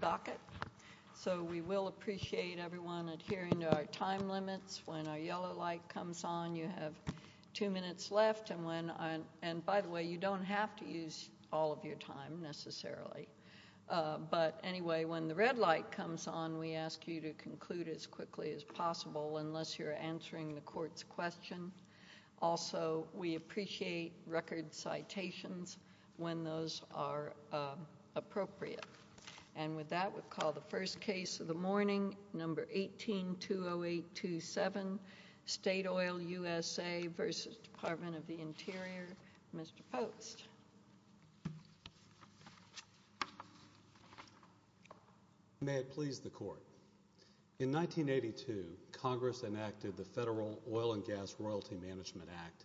docket. So we will appreciate everyone adhering to our time limits. When our yellow light comes on, you have two minutes left. And by the way, you don't have to use all of your time necessarily. But anyway, when the red light comes on, we ask you to conclude as quickly as possible unless you're answering the court's question. Also, we appreciate record citations when those are appropriate. And with that, we'll call the first case of the morning, No. 18-20827, State Oil USA v. Department of the Interior. Mr. Post. May it please the court. In 1982, Congress enacted the Federal Oil and Gas Royalty Management Act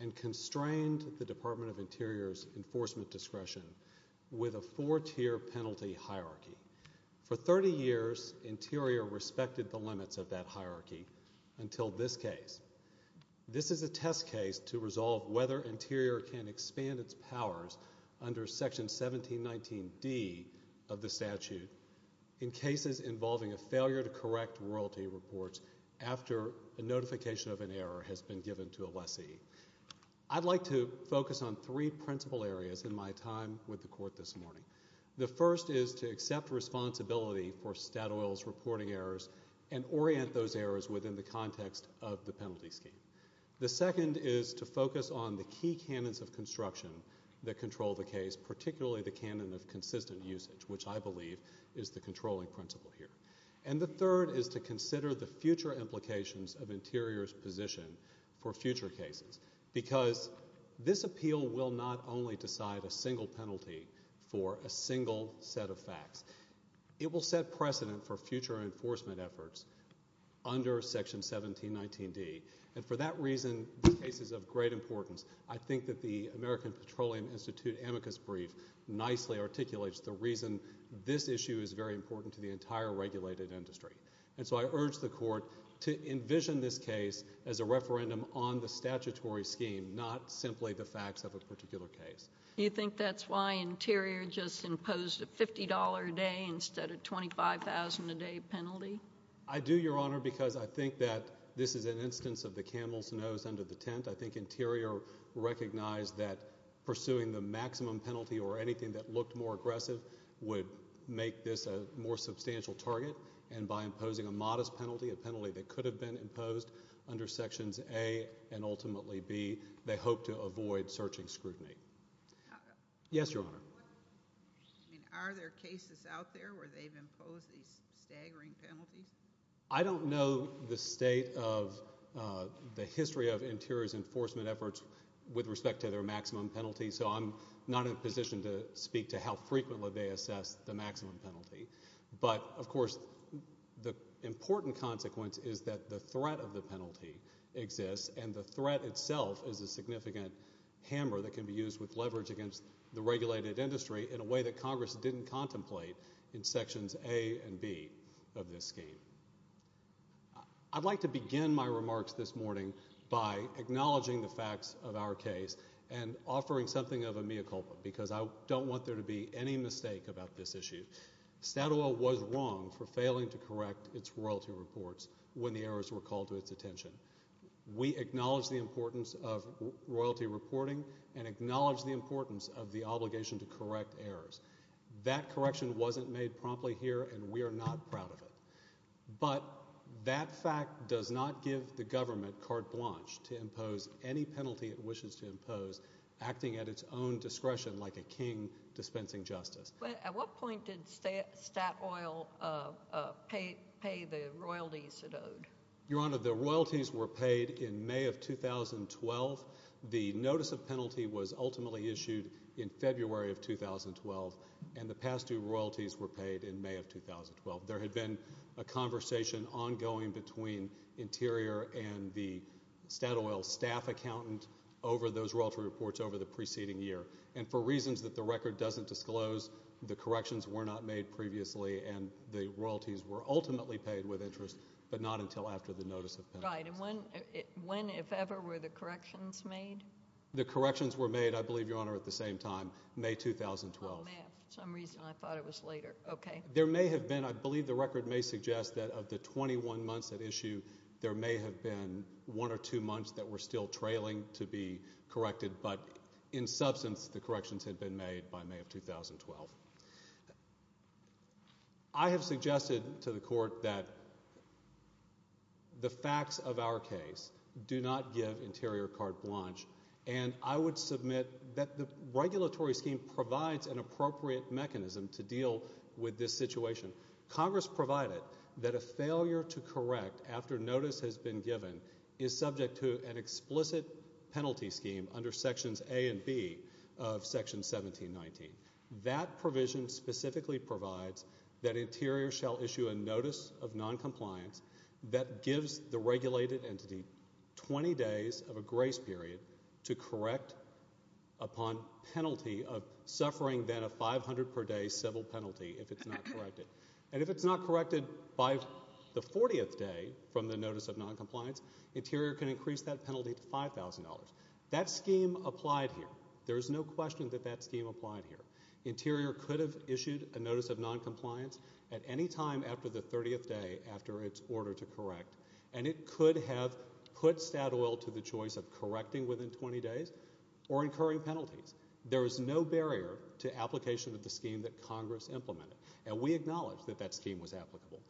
and constrained the Department of Interior's enforcement discretion with a four-tier penalty hierarchy. For 30 years, Interior respected the limits of that hierarchy until this case. This is a test case to resolve whether Interior can expand its powers under Section 1719D of the statute in cases involving a failure to correct royalty reports after a notification of an error has been given to a lessee. I'd like to focus on three principal areas in my time with the court this morning. The first is to accept responsibility for State Oil's reporting errors and orient those errors within the context of the penalty scheme. The second is to focus on the key canons of construction that control the case, particularly the canon of consistent usage, which I believe is the controlling principle here. And the third is to consider the future implications of Interior's position for future cases, because this appeal will not only decide a single penalty for a single set of facts. It will set precedent for future enforcement efforts under Section 1719D, and for that reason, the case is of great importance. I think that the American Petroleum Institute amicus brief nicely articulates the reason this issue is very important to the entire regulated industry. And so I urge the court to envision this case as a referendum on the statutory scheme, not simply the facts of a particular case. Do you think that's why Interior just imposed a $50 a day instead of $25,000 a day penalty? I do, Your Honor, because I think that this is an instance of the camel's nose under the aggressive would make this a more substantial target, and by imposing a modest penalty, a penalty that could have been imposed under Sections A and ultimately B, they hope to avoid searching scrutiny. Yes, Your Honor. Are there cases out there where they've imposed these staggering penalties? I don't know the state of the history of Interior's enforcement efforts with respect to their ability to speak to how frequently they assess the maximum penalty, but of course, the important consequence is that the threat of the penalty exists, and the threat itself is a significant hammer that can be used with leverage against the regulated industry in a way that Congress didn't contemplate in Sections A and B of this scheme. I'd like to begin my remarks this morning by acknowledging the facts of our case and offering something of a mea culpa, because I don't want there to be any mistake about this issue. Statoil was wrong for failing to correct its royalty reports when the errors were called to its attention. We acknowledge the importance of royalty reporting and acknowledge the importance of the obligation to correct errors. That correction wasn't made promptly here, and we are not proud of it. But that fact does not give the government carte blanche to impose any penalty it wishes to impose, acting at its own discretion like a king dispensing justice. At what point did Statoil pay the royalties it owed? Your Honor, the royalties were paid in May of 2012. The notice of penalty was ultimately issued in February of 2012, and the past two royalties were paid in May of 2012. There had been a conversation ongoing between Interior and the Statoil staff accountant over those royalty reports over the preceding year. And for reasons that the record doesn't disclose, the corrections were not made previously, and the royalties were ultimately paid with interest, but not until after the notice of penalty. Right. And when, if ever, were the corrections made? The corrections were made, I believe, Your Honor, at the same time, May 2012. Oh, math. For some reason I thought it was later. Okay. There may have been, I believe the record may suggest that of the 21 months at issue, there may have been one or two months that were still trailing to be corrected, but in substance, the corrections had been made by May of 2012. I have suggested to the Court that the facts of our case do not give Interior carte blanche, and I would submit that the regulatory scheme provides an appropriate mechanism to deal with this situation. Congress provided that a failure to correct after notice has been given is subject to an explicit penalty scheme under Sections A and B of Section 1719. That provision specifically provides that Interior shall issue a notice of noncompliance that gives the regulated entity 20 days of a grace period to correct upon penalty of 500 per day civil penalty if it's not corrected. And if it's not corrected by the 40th day from the notice of noncompliance, Interior can increase that penalty to $5,000. That scheme applied here. There's no question that that scheme applied here. Interior could have issued a notice of noncompliance at any time after the 30th day after its order to correct, and it could have put Statoil to the choice of correcting within 20 days or incurring penalties. There is no barrier to application of the scheme that Congress implemented, and we acknowledge that that scheme was applicable.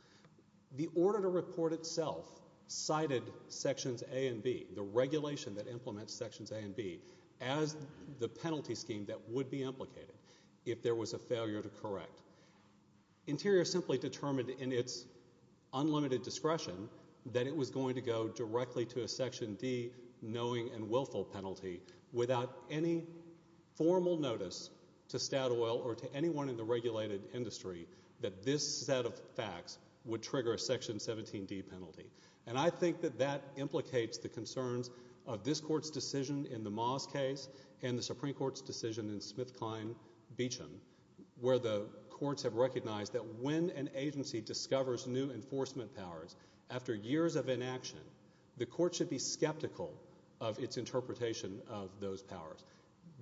The order to report itself cited Sections A and B, the regulation that implements Sections A and B, as the penalty scheme that would be implicated if there was a failure to correct. Interior simply determined in its unlimited discretion that it was going to go directly to a Section D knowing and willful penalty without any formal notice to Statoil or to anyone in the regulated industry that this set of facts would trigger a Section 17D penalty. And I think that that implicates the concerns of this Court's decision in the Moss case and the Supreme Court's decision in SmithKline-Beacham where the courts have recognized that when an agency discovers new enforcement powers after years of inaction, the court should be skeptical of its interpretation of those powers.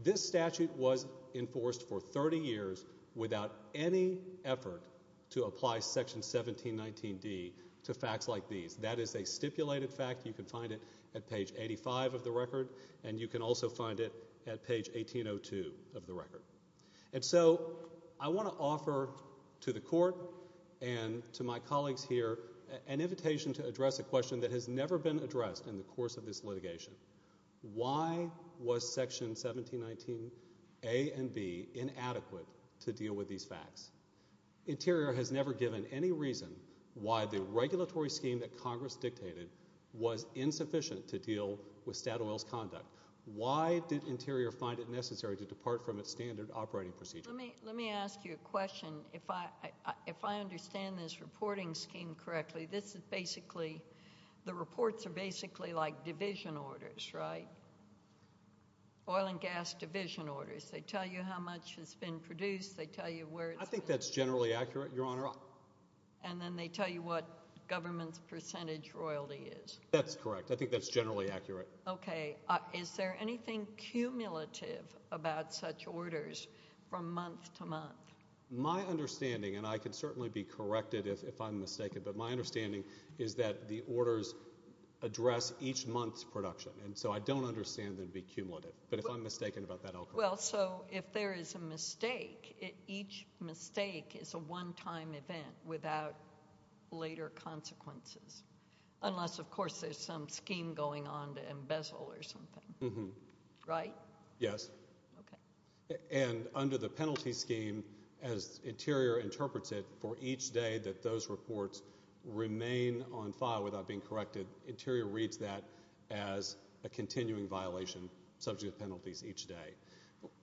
This statute was enforced for 30 years without any effort to apply Section 1719D to facts like these. That is a stipulated fact. You can find it at page 85 of the record, and you can also find it at page 1802 of the record. And so I want to offer to the Court and to my colleagues here an invitation to address a question that has never been addressed in the course of this litigation. Why was Section 1719A and B inadequate to deal with these facts? Interior has never given any reason why the regulatory scheme that Congress dictated was insufficient to deal with Statoil's conduct. Why did Interior find it necessary to depart from its standard operating procedure? Let me ask you a question. If I understand this reporting scheme correctly, this is basically, the reports are basically like division orders, right? Oil and gas division orders. They tell you how much has been produced. I think that's generally accurate, Your Honor. And then they tell you what government's percentage royalty is. That's correct. I think that's generally accurate. Okay. Is there anything cumulative about such orders from month to month? My understanding, and I can certainly be corrected if I'm mistaken, but my understanding is that the orders address each month's production, and so I don't understand them to be cumulative. But if I'm mistaken about that, I'll correct you. Well, so if there is a mistake, each mistake is a one-time event without later consequences, unless, of course, there's some scheme going on to embezzle or something. Right? Yes. Okay. And under the penalty scheme, as Interior interprets it, for each day that those reports remain on file without being corrected, Interior reads that as a continuing violation subject to penalties each day.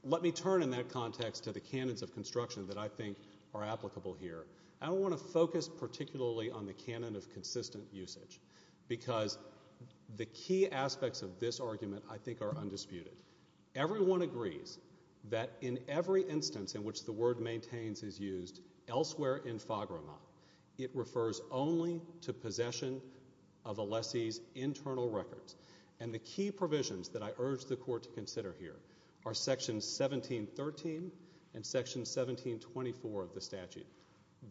Let me turn in that context to the canons of construction that I think are applicable here. I don't want to focus particularly on the canon of consistent usage because the key aspects of this argument I think are undisputed. Everyone agrees that in every instance in which the word maintains is used elsewhere in FAGRAMA, it refers only to possession of a lessee's internal records, and the key provisions that I urge the Court to consider here are Section 1713 and Section 1724 of the statute.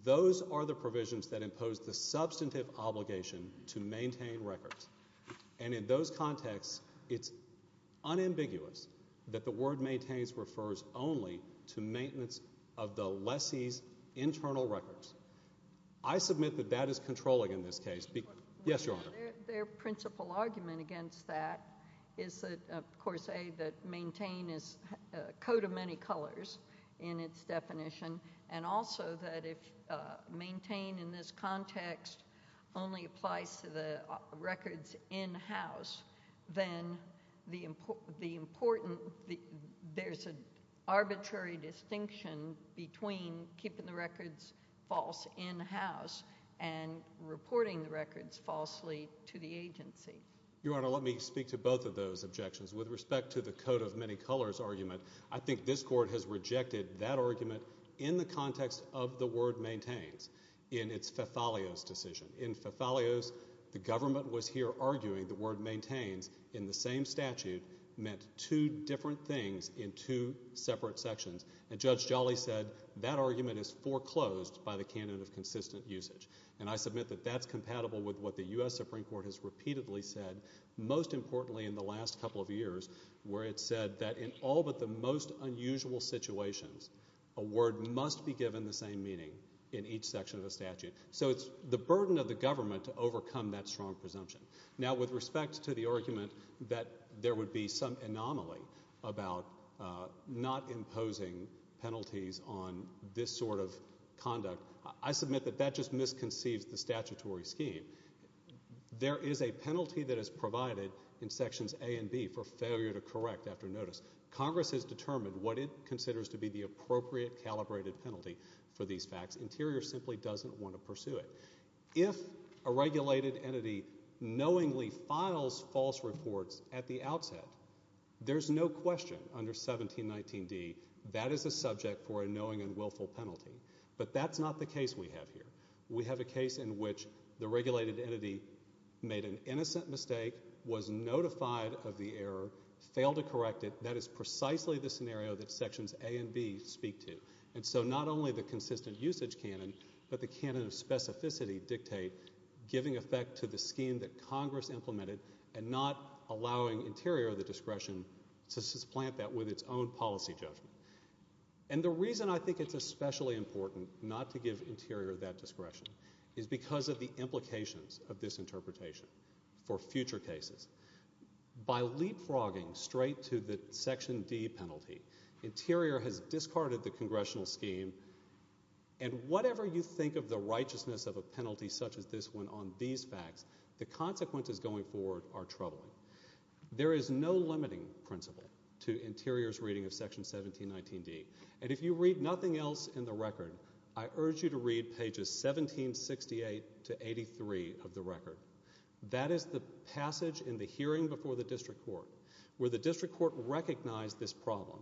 Those are the provisions that impose the substantive obligation to maintain records, and in those contexts, it's unambiguous that the word maintains refers only to maintenance of the lessee's internal records. I submit that that is controlling in this case. Yes, Your Honor. Their principal argument against that is that, of course, A, that maintain is a coat of many colors in its definition, and also that if maintain in this context only applies to the records in-house, then there's an arbitrary distinction between keeping the records false in-house and reporting the records falsely to the agency. Your Honor, let me speak to both of those objections. With respect to the coat of many colors argument, I think this Court has rejected that argument in the context of the word maintains in its Fethalios decision. In Fethalios, the government was here arguing the word maintains in the same statute meant two different things in two separate sections, and Judge Jolly said that argument is foreclosed by the candidate of consistent usage, and I submit that that's compatible with what the U.S. Supreme Court has repeatedly said, most importantly in the last couple of years, where it said that in all but the most unusual situations, a word must be given the same meaning in each section of a statute. So it's the burden of the government to overcome that strong presumption. Now, with respect to the argument that there would be some anomaly about not imposing penalties on this sort of conduct, I submit that that just misconceives the statutory scheme. There is a penalty that is provided in sections A and B for failure to correct after notice. Congress has determined what it considers to be the appropriate calibrated penalty for these facts. Interior simply doesn't want to pursue it. If a regulated entity knowingly files false reports at the outset, there's no question under 1719d that is a subject for a knowing and willful penalty, but that's not the case we have here. We have a case in which the regulated entity made an innocent mistake, was notified of the error, failed to correct it. That is precisely the scenario that sections A and B speak to. And so not only the consistent usage canon, but the canon of specificity dictate, giving effect to the scheme that Congress implemented and not allowing Interior the discretion to supplant that with its own policy judgment. And the reason I think it's especially important not to give Interior that discretion is because of the implications of this interpretation for future cases. By leapfrogging straight to the section D penalty, Interior has discarded the congressional scheme, and whatever you think of the righteousness of a penalty such as this one on these facts, the consequences going forward are troubling. There is no limiting principle to Interior's reading of section 1719d, and if you read nothing else in the record, I urge you to read pages 1768 to 83 of the record. That is the passage in the hearing before the district court where the district court recognized this problem.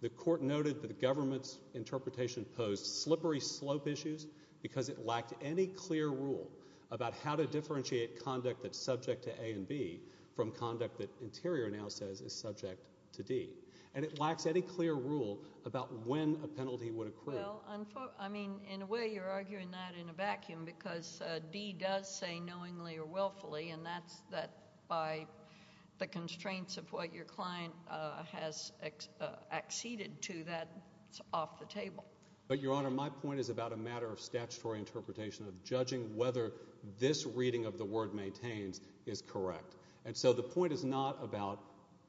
The court noted that the government's interpretation posed slippery slope issues because it lacked any clear rule about how to differentiate conduct that's subject to A and B from conduct that Interior now says is subject to D, and it lacks any clear rule about when a penalty would occur. Well, I mean, in a way you're arguing that in a vacuum because D does say knowingly or willfully, and that's by the constraints of what your client has acceded to. That's off the table. But, Your Honor, my point is about a matter of statutory interpretation of judging whether this reading of the word maintains is correct. And so the point is not about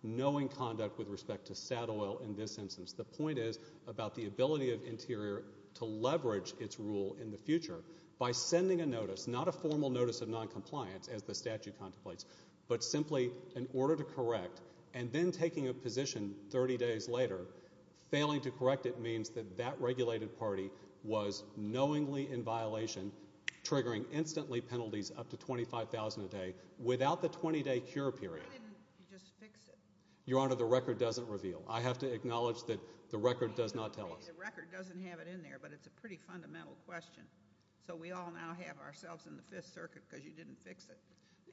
knowing conduct with respect to saddle oil in this instance. The point is about the ability of Interior to leverage its rule in the future by sending a notice, not a formal notice of noncompliance as the statute contemplates, but simply in order to correct, and then taking a position 30 days later, failing to correct it means that that regulated party was knowingly in violation, triggering instantly penalties up to $25,000 a day without the 20-day cure period. Why didn't you just fix it? Your Honor, the record doesn't reveal. I have to acknowledge that the record does not tell us. The record doesn't have it in there, but it's a pretty fundamental question. So we all now have ourselves in the Fifth Circuit because you didn't fix it,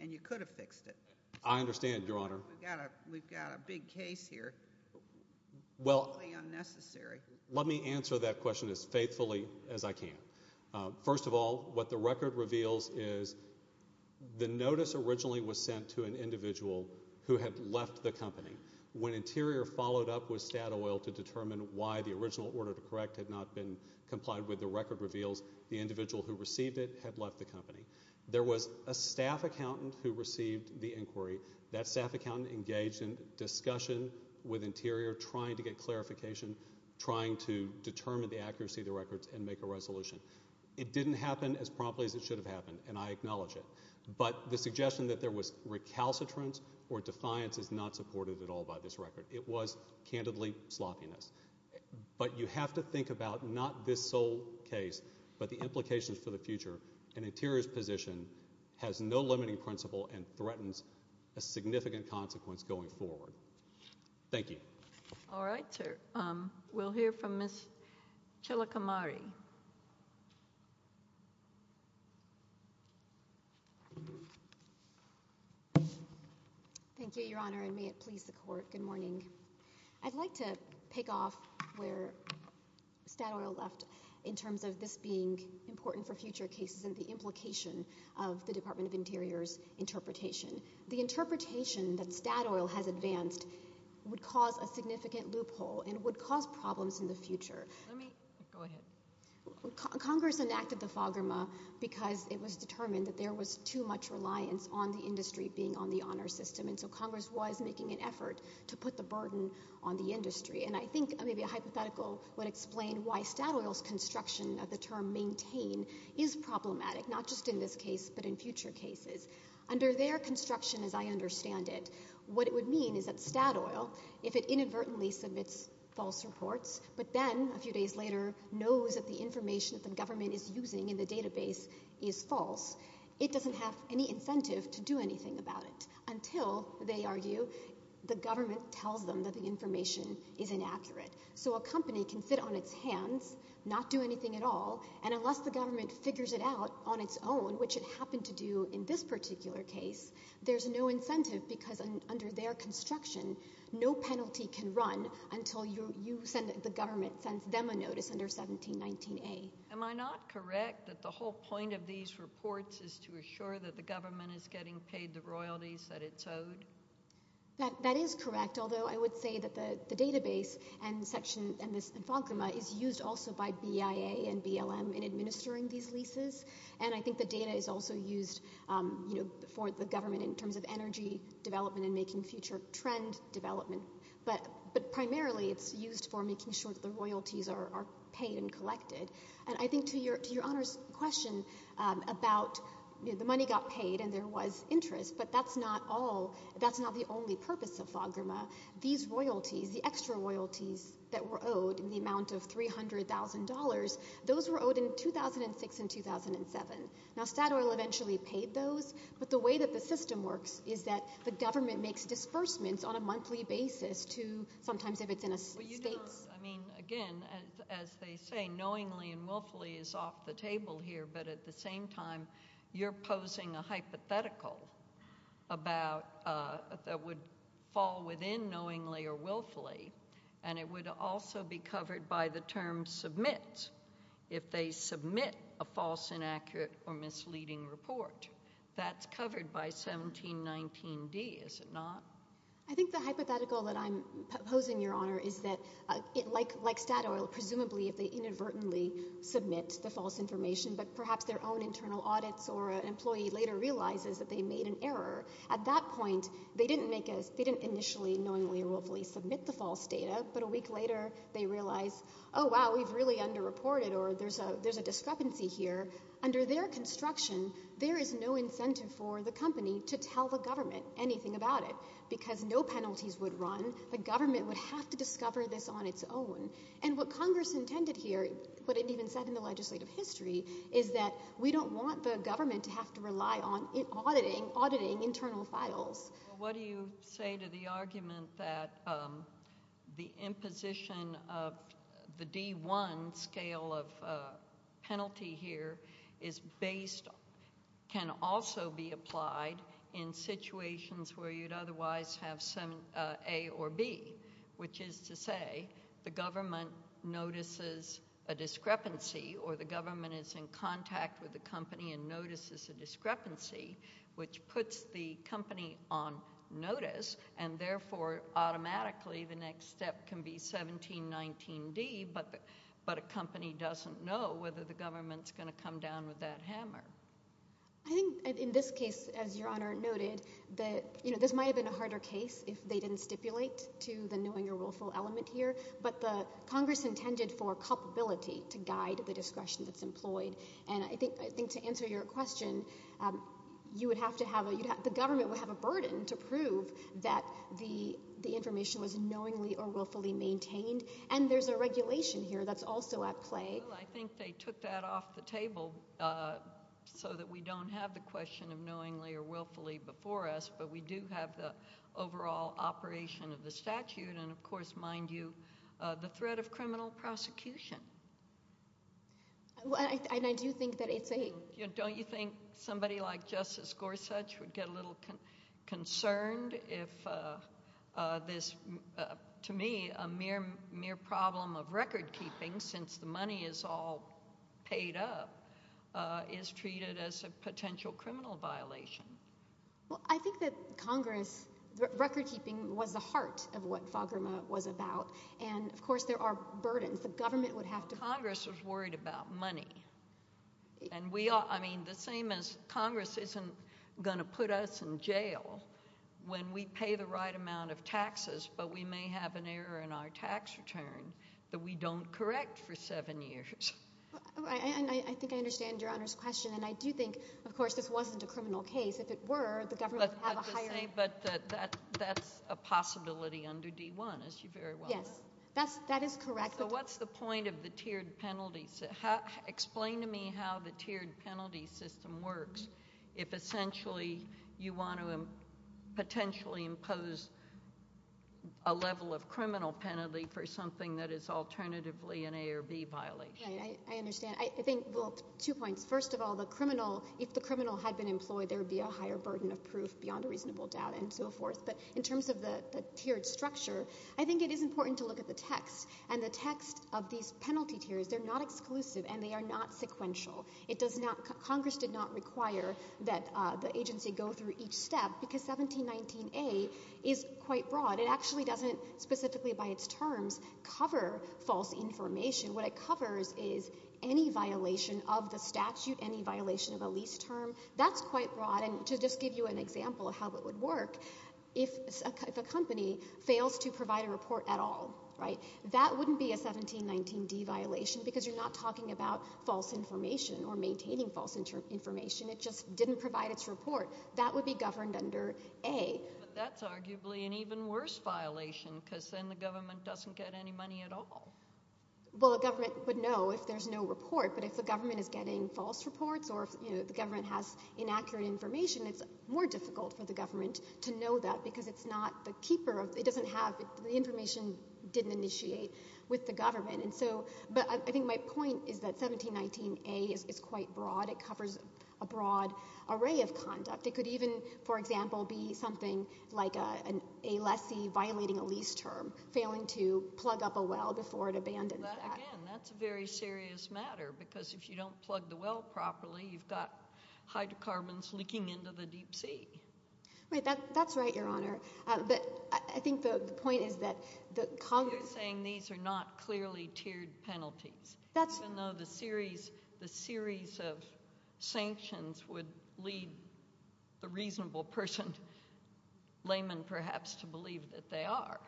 and you could have fixed it. I understand, Your Honor. We've got a big case here. Well, let me answer that question as faithfully as I can. First of all, what the record reveals is the notice originally was sent to an individual who had left the company. When Interior followed up with saddle oil to determine why the original order to correct had not been complied with, the record reveals the individual who received it had left the company. There was a staff accountant who received the inquiry. That staff accountant engaged in discussion with Interior, trying to get clarification, trying to determine the accuracy of the records and make a resolution. It didn't happen as promptly as it should have happened, and I acknowledge it. But the suggestion that there was recalcitrance or defiance is not supported at all by this record. It was, candidly, sloppiness. But you have to think about not this sole case, but the implications for the future. An Interior's position has no limiting principle and threatens a significant consequence going forward. Thank you. All right, sir. We'll hear from Ms. Chilakamari. Thank you, Your Honor, and may it please the Court. Good morning. I'd like to pick off where saddle oil left in terms of this being important for future cases and the implication of the Department of Interior's interpretation. The interpretation that saddle oil has advanced would cause a significant loophole and would cause problems in the future. Let me go ahead. Congress enacted the FOGRMA because it was determined that there was too much reliance on the industry being on the honor system, and so Congress was making an effort to put the burden on the industry. And I think maybe a hypothetical would explain why saddle oil's construction of the term maintain is problematic, not just in this case but in future cases. Under their construction, as I understand it, what it would mean is that saddle oil, if it inadvertently submits false reports but then a few days later knows that the information that the government is using in the database is false, it doesn't have any incentive to do anything about it until, they argue, the government tells them that the information is inaccurate. So a company can sit on its hands, not do anything at all, and unless the government figures it out on its own, which it happened to do in this particular case, there's no incentive because under their construction, no penalty can run until the government sends them a notice under 1719A. Am I not correct that the whole point of these reports is to assure that the government is getting paid the royalties that it's owed? That is correct, although I would say that the database and this infograma is used also by BIA and BLM in administering these leases, and I think the data is also used for the government in terms of energy development and making future trend development, but primarily it's used for making sure that the royalties are paid and collected. And I think to your Honor's question about the money got paid and there was interest, but that's not the only purpose of the infograma. These royalties, the extra royalties that were owed in the amount of $300,000, those were owed in 2006 and 2007. Now Statoil eventually paid those, but the way that the system works is that the government makes disbursements on a monthly basis to sometimes if it's in a state. Again, as they say, knowingly and willfully is off the table here, but at the same time you're posing a hypothetical that would fall within knowingly or willfully, and it would also be covered by the term submit if they submit a false, inaccurate, or misleading report. That's covered by 1719D, is it not? I think the hypothetical that I'm posing, Your Honor, is that like Statoil, presumably if they inadvertently submit the false information, but perhaps their own internal audits or an employee later realizes that they made an error, at that point they didn't initially knowingly or willfully submit the false data, but a week later they realize, oh wow, we've really underreported or there's a discrepancy here. Under their construction, there is no incentive for the company to tell the government anything about it because no penalties would run. The government would have to discover this on its own, and what Congress intended here, what it even said in the legislative history, is that we don't want the government to have to rely on auditing internal files. What do you say to the argument that the imposition of the D1 scale of penalty here is based, can also be applied in situations where you'd otherwise have A or B, which is to say the government notices a discrepancy or the government is in contact with the company and notices a discrepancy, which puts the company on notice and therefore automatically the next step can be 1719D, but a company doesn't know whether the government is going to come down with that hammer. I think in this case, as Your Honor noted, this might have been a harder case if they didn't stipulate to the knowing or willful element here, but Congress intended for culpability to guide the discretion that's employed, and I think to answer your question, the government would have a burden to prove that the information was knowingly or willfully maintained, and there's a regulation here that's also at play. I think they took that off the table so that we don't have the question of knowingly or willfully before us, but we do have the overall operation of the statute, and of course, mind you, the threat of criminal prosecution. And I do think that it's a— Don't you think somebody like Justice Gorsuch would get a little concerned if this, to me, a mere problem of recordkeeping since the money is all paid up is treated as a potential criminal violation? Well, I think that Congress, recordkeeping was the heart of what FAGRMA was about, and, of course, there are burdens the government would have to— Congress was worried about money, and we are—I mean, the same as Congress isn't going to put us in jail when we pay the right amount of taxes but we may have an error in our tax return that we don't correct for seven years. I think I understand Your Honor's question, and I do think, of course, this wasn't a criminal case. If it were, the government would have a higher— I was going to say, but that's a possibility under D-1, as you very well know. Yes, that is correct. So what's the point of the tiered penalty—explain to me how the tiered penalty system works if essentially you want to potentially impose a level of criminal penalty for something that is alternatively an A or B violation. Right, I understand. I think, well, two points. First of all, the criminal—if the criminal had been employed, there would be a higher burden of proof beyond a reasonable doubt and so forth. But in terms of the tiered structure, I think it is important to look at the text. And the text of these penalty tiers, they're not exclusive and they are not sequential. It does not—Congress did not require that the agency go through each step because 1719A is quite broad. It actually doesn't specifically by its terms cover false information. What it covers is any violation of the statute, any violation of a lease term. That's quite broad. And to just give you an example of how it would work, if a company fails to provide a report at all, right, that wouldn't be a 1719D violation because you're not talking about false information or maintaining false information. It just didn't provide its report. That would be governed under A. But that's arguably an even worse violation because then the government doesn't get any money at all. Well, the government would know if there's no report, but if the government is getting false reports or if the government has inaccurate information, it's more difficult for the government to know that because it's not the keeper of—it doesn't have—the information didn't initiate with the government. But I think my point is that 1719A is quite broad. It covers a broad array of conduct. It could even, for example, be something like a lessee violating a lease term, failing to plug up a well before it abandons that. Again, that's a very serious matter because if you don't plug the well properly, you've got hydrocarbons leaking into the deep sea. That's right, Your Honor. But I think the point is that Congress— You're saying these are not clearly tiered penalties. Even though the series of sanctions would lead the reasonable person, layman perhaps, to believe that they are.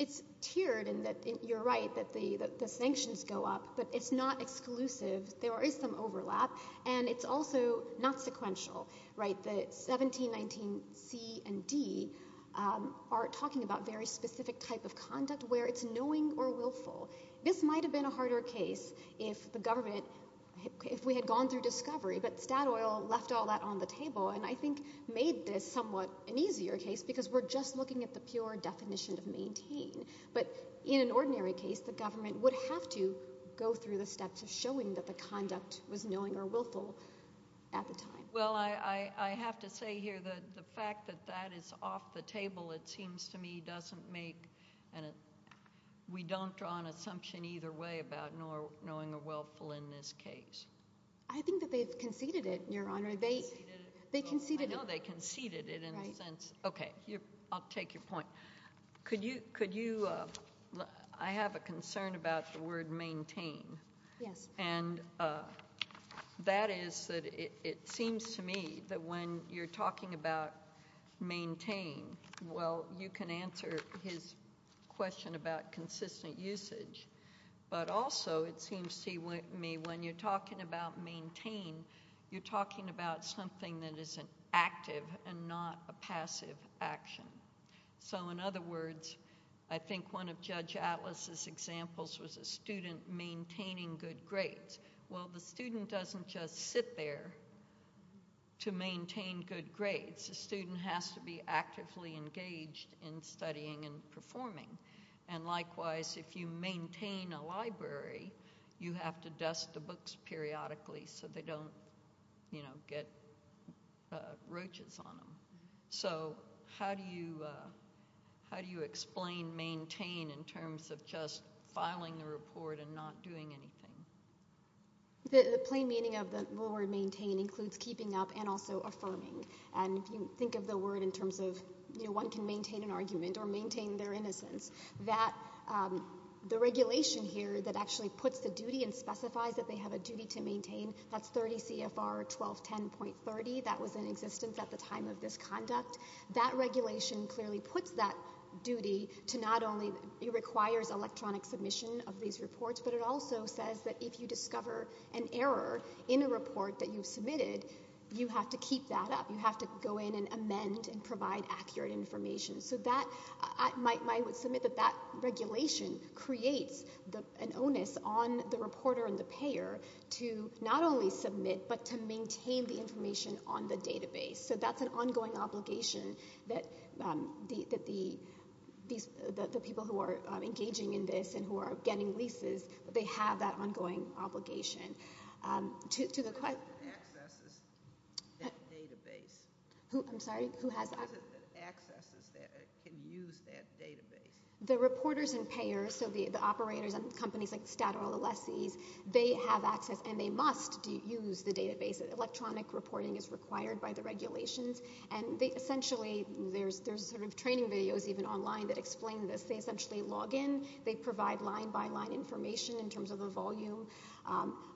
It's tiered in that you're right, that the sanctions go up, but it's not exclusive. There is some overlap, and it's also not sequential. 1719C and D are talking about very specific type of conduct where it's knowing or willful. This might have been a harder case if the government— if we had gone through discovery, but stat oil left all that on the table and I think made this somewhat an easier case because we're just looking at the pure definition of maintain. But in an ordinary case, the government would have to go through the steps of showing that the conduct was knowing or willful at the time. Well, I have to say here that the fact that that is off the table, it seems to me, doesn't make— we don't draw an assumption either way about knowing or willful in this case. I think that they've conceded it, Your Honor. They conceded it. They conceded it. I know they conceded it in the sense— Right. Okay, I'll take your point. Could you—I have a concern about the word maintain. Yes. And that is that it seems to me that when you're talking about maintain, well, you can answer his question about consistent usage, but also it seems to me when you're talking about maintain, you're talking about something that is an active and not a passive action. So, in other words, I think one of Judge Atlas' examples was a student maintaining good grades. Well, the student doesn't just sit there to maintain good grades. The student has to be actively engaged in studying and performing. And likewise, if you maintain a library, you have to dust the books periodically so they don't, you know, get roaches on them. So how do you explain maintain in terms of just filing a report and not doing anything? The plain meaning of the word maintain includes keeping up and also affirming. And if you think of the word in terms of, you know, one can maintain an argument or maintain their innocence, that the regulation here that actually puts the duty and specifies that they have a duty to maintain, that's 30 CFR 1210.30. That was in existence at the time of this conduct. That regulation clearly puts that duty to not only requires electronic submission of these reports, but it also says that if you discover an error in a report that you've submitted, you have to keep that up. You have to go in and amend and provide accurate information. I would submit that that regulation creates an onus on the reporter and the payer to not only submit, but to maintain the information on the database. So that's an ongoing obligation that the people who are engaging in this and who are getting leases, they have that ongoing obligation. Who has accesses that can use that database? The reporters and payers, so the operators and companies like the stat or the lessees, they have access and they must use the database. Electronic reporting is required by the regulations. And they essentially, there's sort of training videos even online that explain this. They essentially log in, they provide line-by-line information in terms of the volume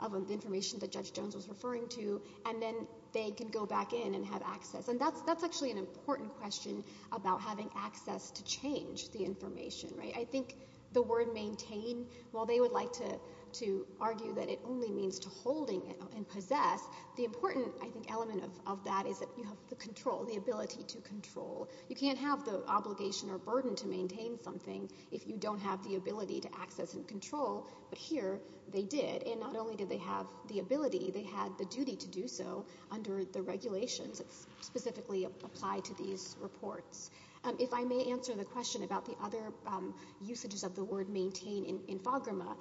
of information that Judge Jones was referring to, and then they can go back in and have access. And that's actually an important question about having access to change the information. I think the word maintain, while they would like to argue that it only means to holding and possess, the important, I think, element of that is that you have the control, the ability to control. You can't have the obligation or burden to maintain something if you don't have the ability to access and control, but here they did. And not only did they have the ability, they had the duty to do so under the regulations that specifically apply to these reports. If I may answer the question about the other usages of the word maintain in FAGRMA,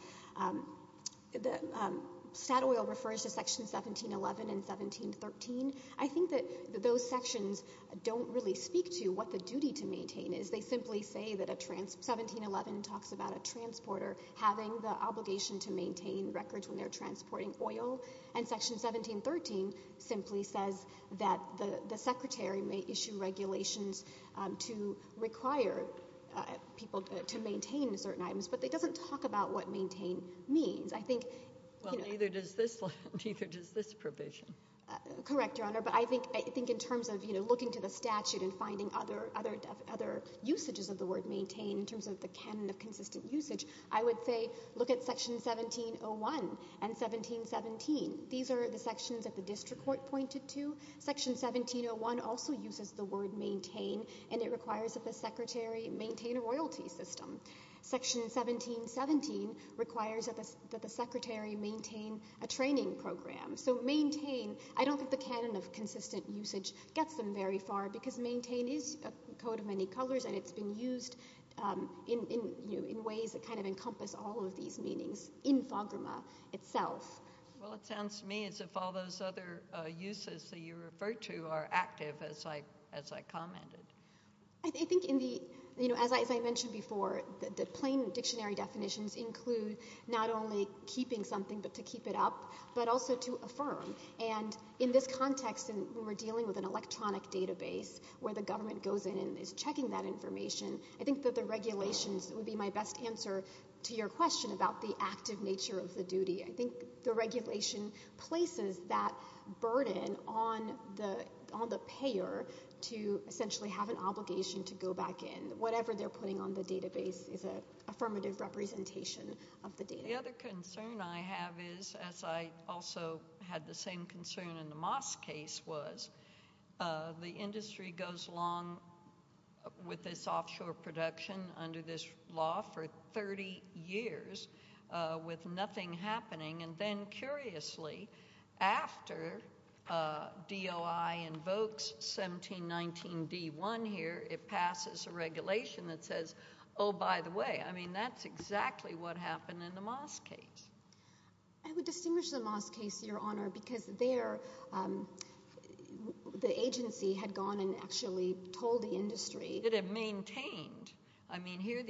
stat oil refers to Section 1711 and 1713. I think that those sections don't really speak to what the duty to maintain is. They simply say that 1711 talks about a transporter having the obligation to maintain records when they're transporting oil, and Section 1713 simply says that the secretary may issue regulations to require people to maintain certain items, but it doesn't talk about what maintain means. Well, neither does this provision. Correct, Your Honor, but I think in terms of, you know, looking to the statute and finding other usages of the word maintain in terms of the canon of consistent usage, I would say look at Section 1701 and 1717. These are the sections that the district court pointed to. Section 1701 also uses the word maintain, and it requires that the secretary maintain a royalty system. Section 1717 requires that the secretary maintain a training program. So maintain, I don't think the canon of consistent usage gets them very far because maintain is a code of many colors, and it's been used in ways that kind of encompass all of these meanings in FAGRMA itself. Well, it sounds to me as if all those other uses that you referred to are active, as I commented. I think in the, you know, as I mentioned before, the plain dictionary definitions include not only keeping something but to keep it up, but also to affirm. And in this context, when we're dealing with an electronic database where the government goes in and is checking that information, I think that the regulations would be my best answer to your question about the active nature of the duty. I think the regulation places that burden on the payer to essentially have an obligation to go back in. And whatever they're putting on the database is an affirmative representation of the data. The other concern I have is, as I also had the same concern in the Moss case was, the industry goes along with this offshore production under this law for 30 years with nothing happening. And then, curiously, after DOI invokes 1719D1 here, it passes a regulation that says, oh, by the way, I mean, that's exactly what happened in the Moss case. I would distinguish the Moss case, Your Honor, because there the agency had gone and actually told the industry. It had maintained. I mean, here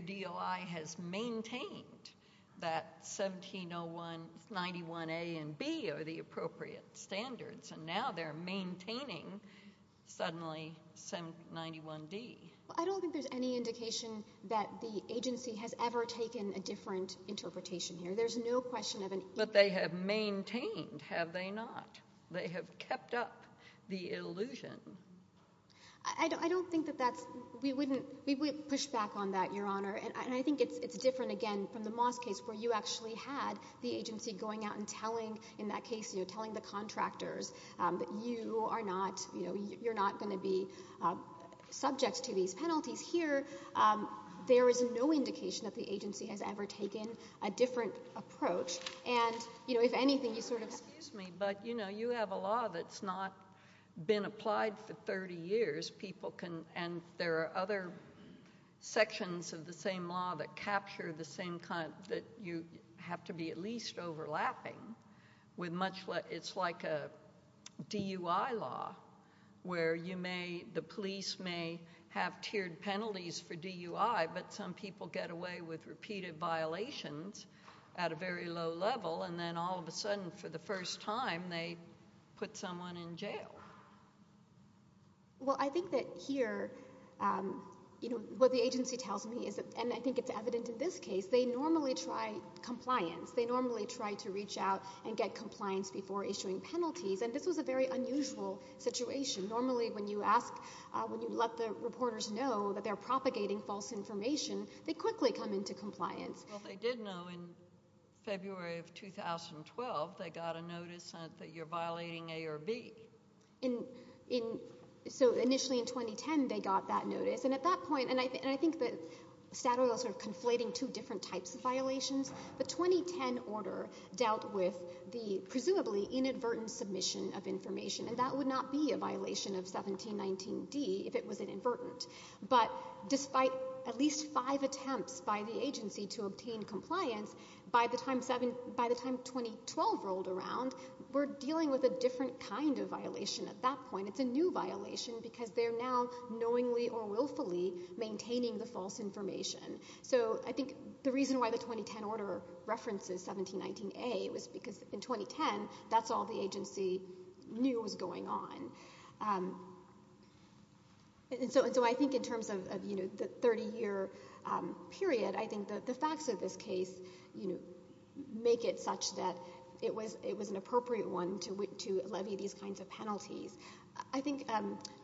DOI has maintained that 1791A and B are the appropriate standards, and now they're maintaining, suddenly, 1791D. I don't think there's any indication that the agency has ever taken a different interpretation here. There's no question of an interpretation. But they have maintained, have they not? They have kept up the illusion. I don't think that that's, we wouldn't push back on that, Your Honor. And I think it's different, again, from the Moss case where you actually had the agency going out and telling, in that case, you know, telling the contractors that you are not, you know, you're not going to be subject to these penalties here. There is no indication that the agency has ever taken a different approach. And, you know, if anything, you sort of. Excuse me, but, you know, you have a law that's not been applied for 30 years. People can, and there are other sections of the same law that capture the same kind, that you have to be at least overlapping with much. It's like a DUI law where you may, the police may have tiered penalties for DUI, but some people get away with repeated violations at a very low level, and then all of a sudden, for the first time, they put someone in jail. Well, I think that here, you know, what the agency tells me is that, and I think it's evident in this case, they normally try compliance. They normally try to reach out and get compliance before issuing penalties, and this was a very unusual situation. Normally when you ask, when you let the reporters know that they're propagating false information, they quickly come into compliance. Well, they did know in February of 2012 they got a notice that you're violating A or B. So initially in 2010 they got that notice, and at that point, and I think that Statoil is sort of conflating two different types of violations. The 2010 order dealt with the presumably inadvertent submission of information, and that would not be a violation of 1719D if it was inadvertent. But despite at least five attempts by the agency to obtain compliance, by the time 2012 rolled around, we're dealing with a different kind of violation at that point. It's a new violation because they're now knowingly or willfully maintaining the false information. So I think the reason why the 2010 order references 1719A was because in 2010, that's all the agency knew was going on. And so I think in terms of the 30-year period, I think the facts of this case make it such that it was an appropriate one to levy these kinds of penalties. I think,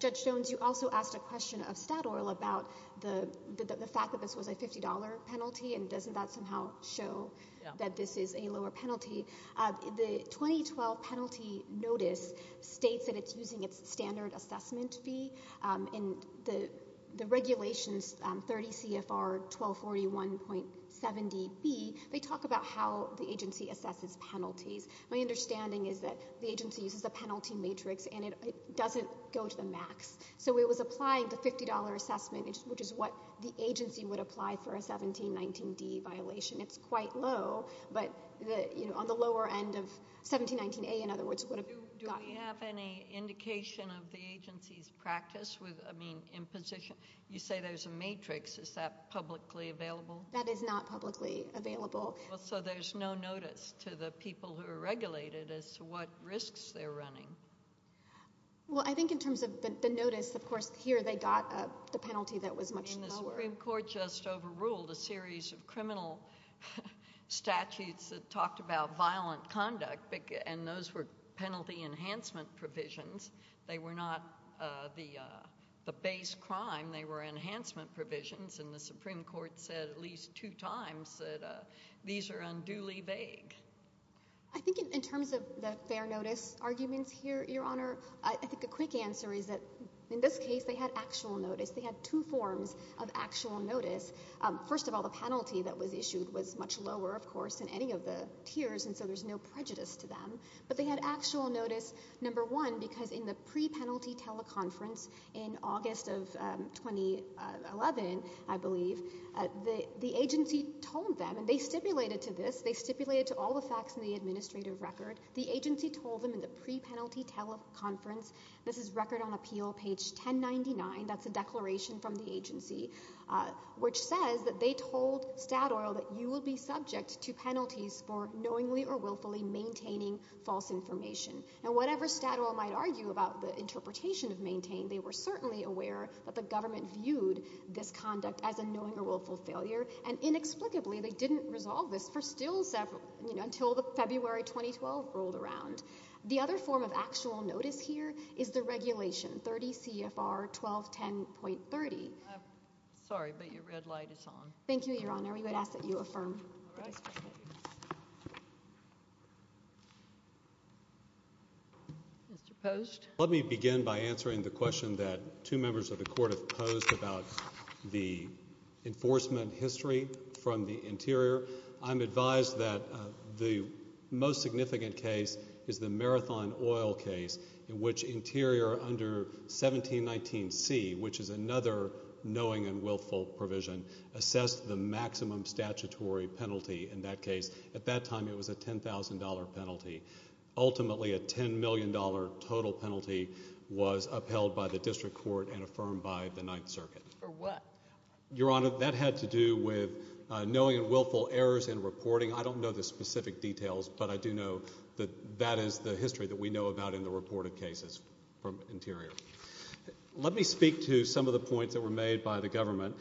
Judge Jones, you also asked a question of Statoil about the fact that this was a $50 penalty, and doesn't that somehow show that this is a lower penalty? The 2012 penalty notice states that it's using its standard assessment fee, and the regulations, 30 CFR 1241.70B, they talk about how the agency assesses penalties. My understanding is that the agency uses a penalty matrix, and it doesn't go to the max. So it was applying the $50 assessment, which is what the agency would apply for a 1719D violation. It's quite low, but on the lower end of 1719A, in other words, would have gotten it. Do we have any indication of the agency's practice? I mean, you say there's a matrix. Is that publicly available? That is not publicly available. So there's no notice to the people who are regulated as to what risks they're running. Well, I think in terms of the notice, of course, here they got the penalty that was much lower. The Supreme Court just overruled a series of criminal statutes that talked about violent conduct, and those were penalty enhancement provisions. They were not the base crime. They were enhancement provisions, and the Supreme Court said at least two times that these are unduly vague. I think in terms of the fair notice arguments here, Your Honor, I think a quick answer is that in this case they had actual notice. They had two forms of actual notice. First of all, the penalty that was issued was much lower, of course, in any of the tiers, and so there's no prejudice to them, but they had actual notice, number one, because in the pre-penalty teleconference in August of 2011, I believe, the agency told them, and they stipulated to this, they stipulated to all the facts in the administrative record, the agency told them in the pre-penalty teleconference, this is Record on Appeal, page 1099, that's a declaration from the agency, which says that they told Statoil that you will be subject to penalties for knowingly or willfully maintaining false information. Now, whatever Statoil might argue about the interpretation of maintain, they were certainly aware that the government viewed this conduct as a knowing or willful failure, and inexplicably they didn't resolve this until February 2012 rolled around. The other form of actual notice here is the regulation, 30 CFR 1210.30. Sorry, but your red light is on. Thank you, Your Honor. We would ask that you affirm. Mr. Post. Let me begin by answering the question that two members of the court have posed about the enforcement history from the interior. I'm advised that the most significant case is the Marathon Oil case, in which interior under 1719C, which is another knowing and willful provision, assessed the maximum statutory penalty in that case. At that time, it was a $10,000 penalty. Ultimately, a $10 million total penalty was upheld by the district court and affirmed by the Ninth Circuit. For what? Your Honor, that had to do with knowing and willful errors in reporting. I don't know the specific details, but I do know that that is the history that we know about in the reported cases from interior. Let me speak to some of the points that were made by the government.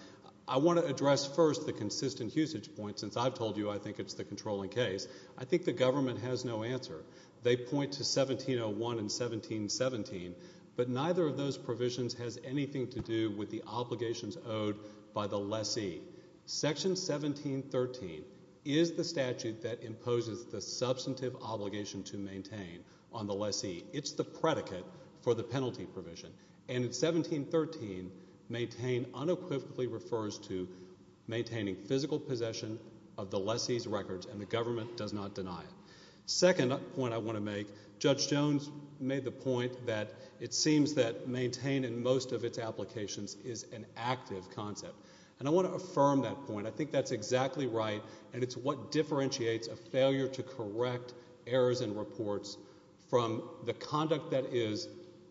I want to address first the consistent usage point, since I've told you I think it's the controlling case. I think the government has no answer. They point to 1701 and 1717, but neither of those provisions has anything to do with the obligations owed by the lessee. Section 1713 is the statute that imposes the substantive obligation to maintain on the lessee. It's the predicate for the penalty provision, and 1713 maintain unequivocally refers to maintaining physical possession of the lessee's records, and the government does not deny it. Second point I want to make. Judge Jones made the point that it seems that maintain in most of its applications is an active concept, and I want to affirm that point. I think that's exactly right, and it's what differentiates a failure to correct errors in reports from the conduct that is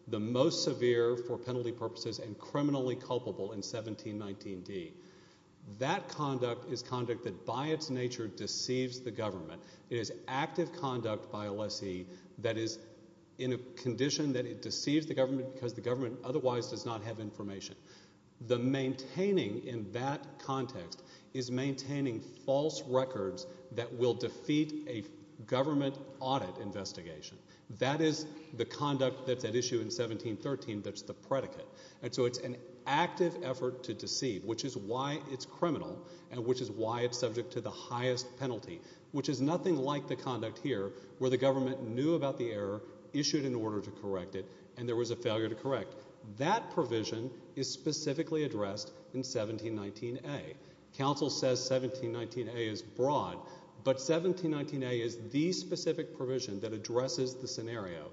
the most severe for penalty purposes and criminally culpable in 1719d. That conduct is conduct that by its nature deceives the government. It is active conduct by a lessee that is in a condition that it deceives the government because the government otherwise does not have information. The maintaining in that context is maintaining false records that will defeat a government audit investigation. That is the conduct that's at issue in 1713 that's the predicate, and so it's an active effort to deceive, which is why it's criminal and which is why it's subject to the highest penalty, which is nothing like the conduct here where the government knew about the error, issued an order to correct it, and there was a failure to correct. That provision is specifically addressed in 1719a. Council says 1719a is broad, but 1719a is the specific provision that addresses the scenario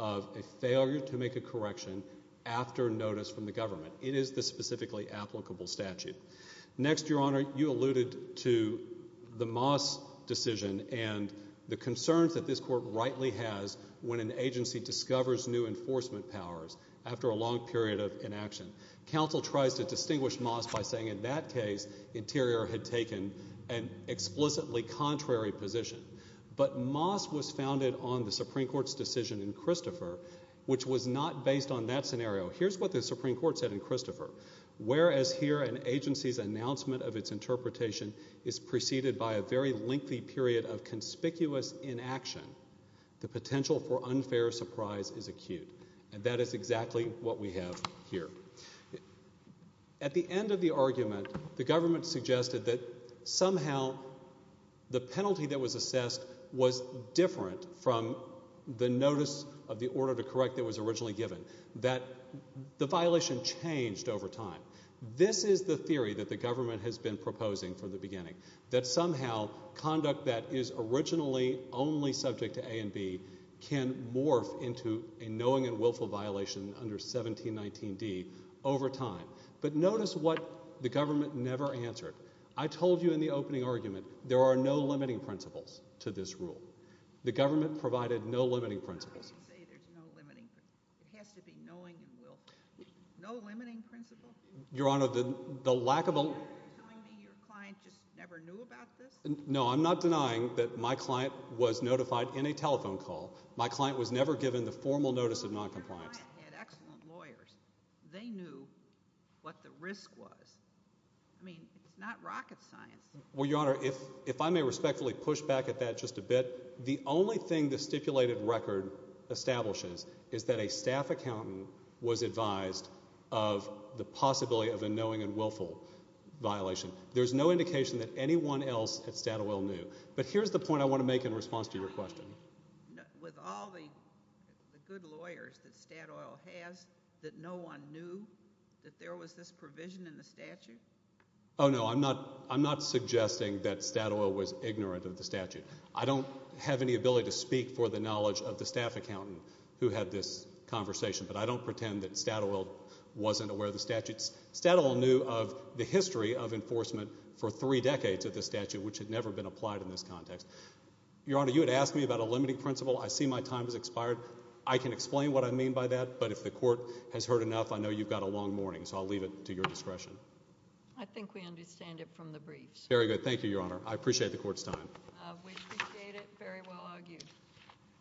of a failure to make a correction after notice from the government. It is the specifically applicable statute. Next, Your Honor, you alluded to the Moss decision and the concerns that this court rightly has when an agency discovers new enforcement powers after a long period of inaction. Council tries to distinguish Moss by saying in that case Interior had taken an explicitly contrary position, but Moss was founded on the Supreme Court's decision in Christopher, which was not based on that scenario. Here's what the Supreme Court said in Christopher. Whereas here an agency's announcement of its interpretation is preceded by a very lengthy period of conspicuous inaction, the potential for unfair surprise is acute, and that is exactly what we have here. At the end of the argument, the government suggested that somehow the penalty that was assessed was different from the notice of the order to correct that was originally given, that the violation changed over time. This is the theory that the government has been proposing from the beginning, that somehow conduct that is originally only subject to A and B can morph into a knowing and willful violation under 1719d over time. But notice what the government never answered. I told you in the opening argument there are no limiting principles to this rule. The government provided no limiting principles. It has to be knowing and willful. No limiting principle? Your Honor, the lack of a... Are you telling me your client just never knew about this? No, I'm not denying that my client was notified in a telephone call. My client was never given the formal notice of noncompliance. Your client had excellent lawyers. They knew what the risk was. I mean, it's not rocket science. Well, Your Honor, if I may respectfully push back at that just a bit, the only thing the stipulated record establishes is that a staff accountant was advised of the possibility of a knowing and willful violation. There's no indication that anyone else at Statoil knew. But here's the point I want to make in response to your question. With all the good lawyers that Statoil has, that no one knew that there was this provision in the statute? Oh, no, I'm not suggesting that Statoil was ignorant of the statute. I don't have any ability to speak for the knowledge of the staff accountant who had this conversation, but I don't pretend that Statoil wasn't aware of the statute. Statoil knew of the history of enforcement for three decades of the statute, which had never been applied in this context. Your Honor, you had asked me about a limiting principle. I see my time has expired. I can explain what I mean by that, but if the court has heard enough, I know you've got a long morning, so I'll leave it to your discretion. I think we understand it from the briefs. Very good. Thank you, Your Honor. I appreciate the court's time. We appreciate it. Very well argued on both sides.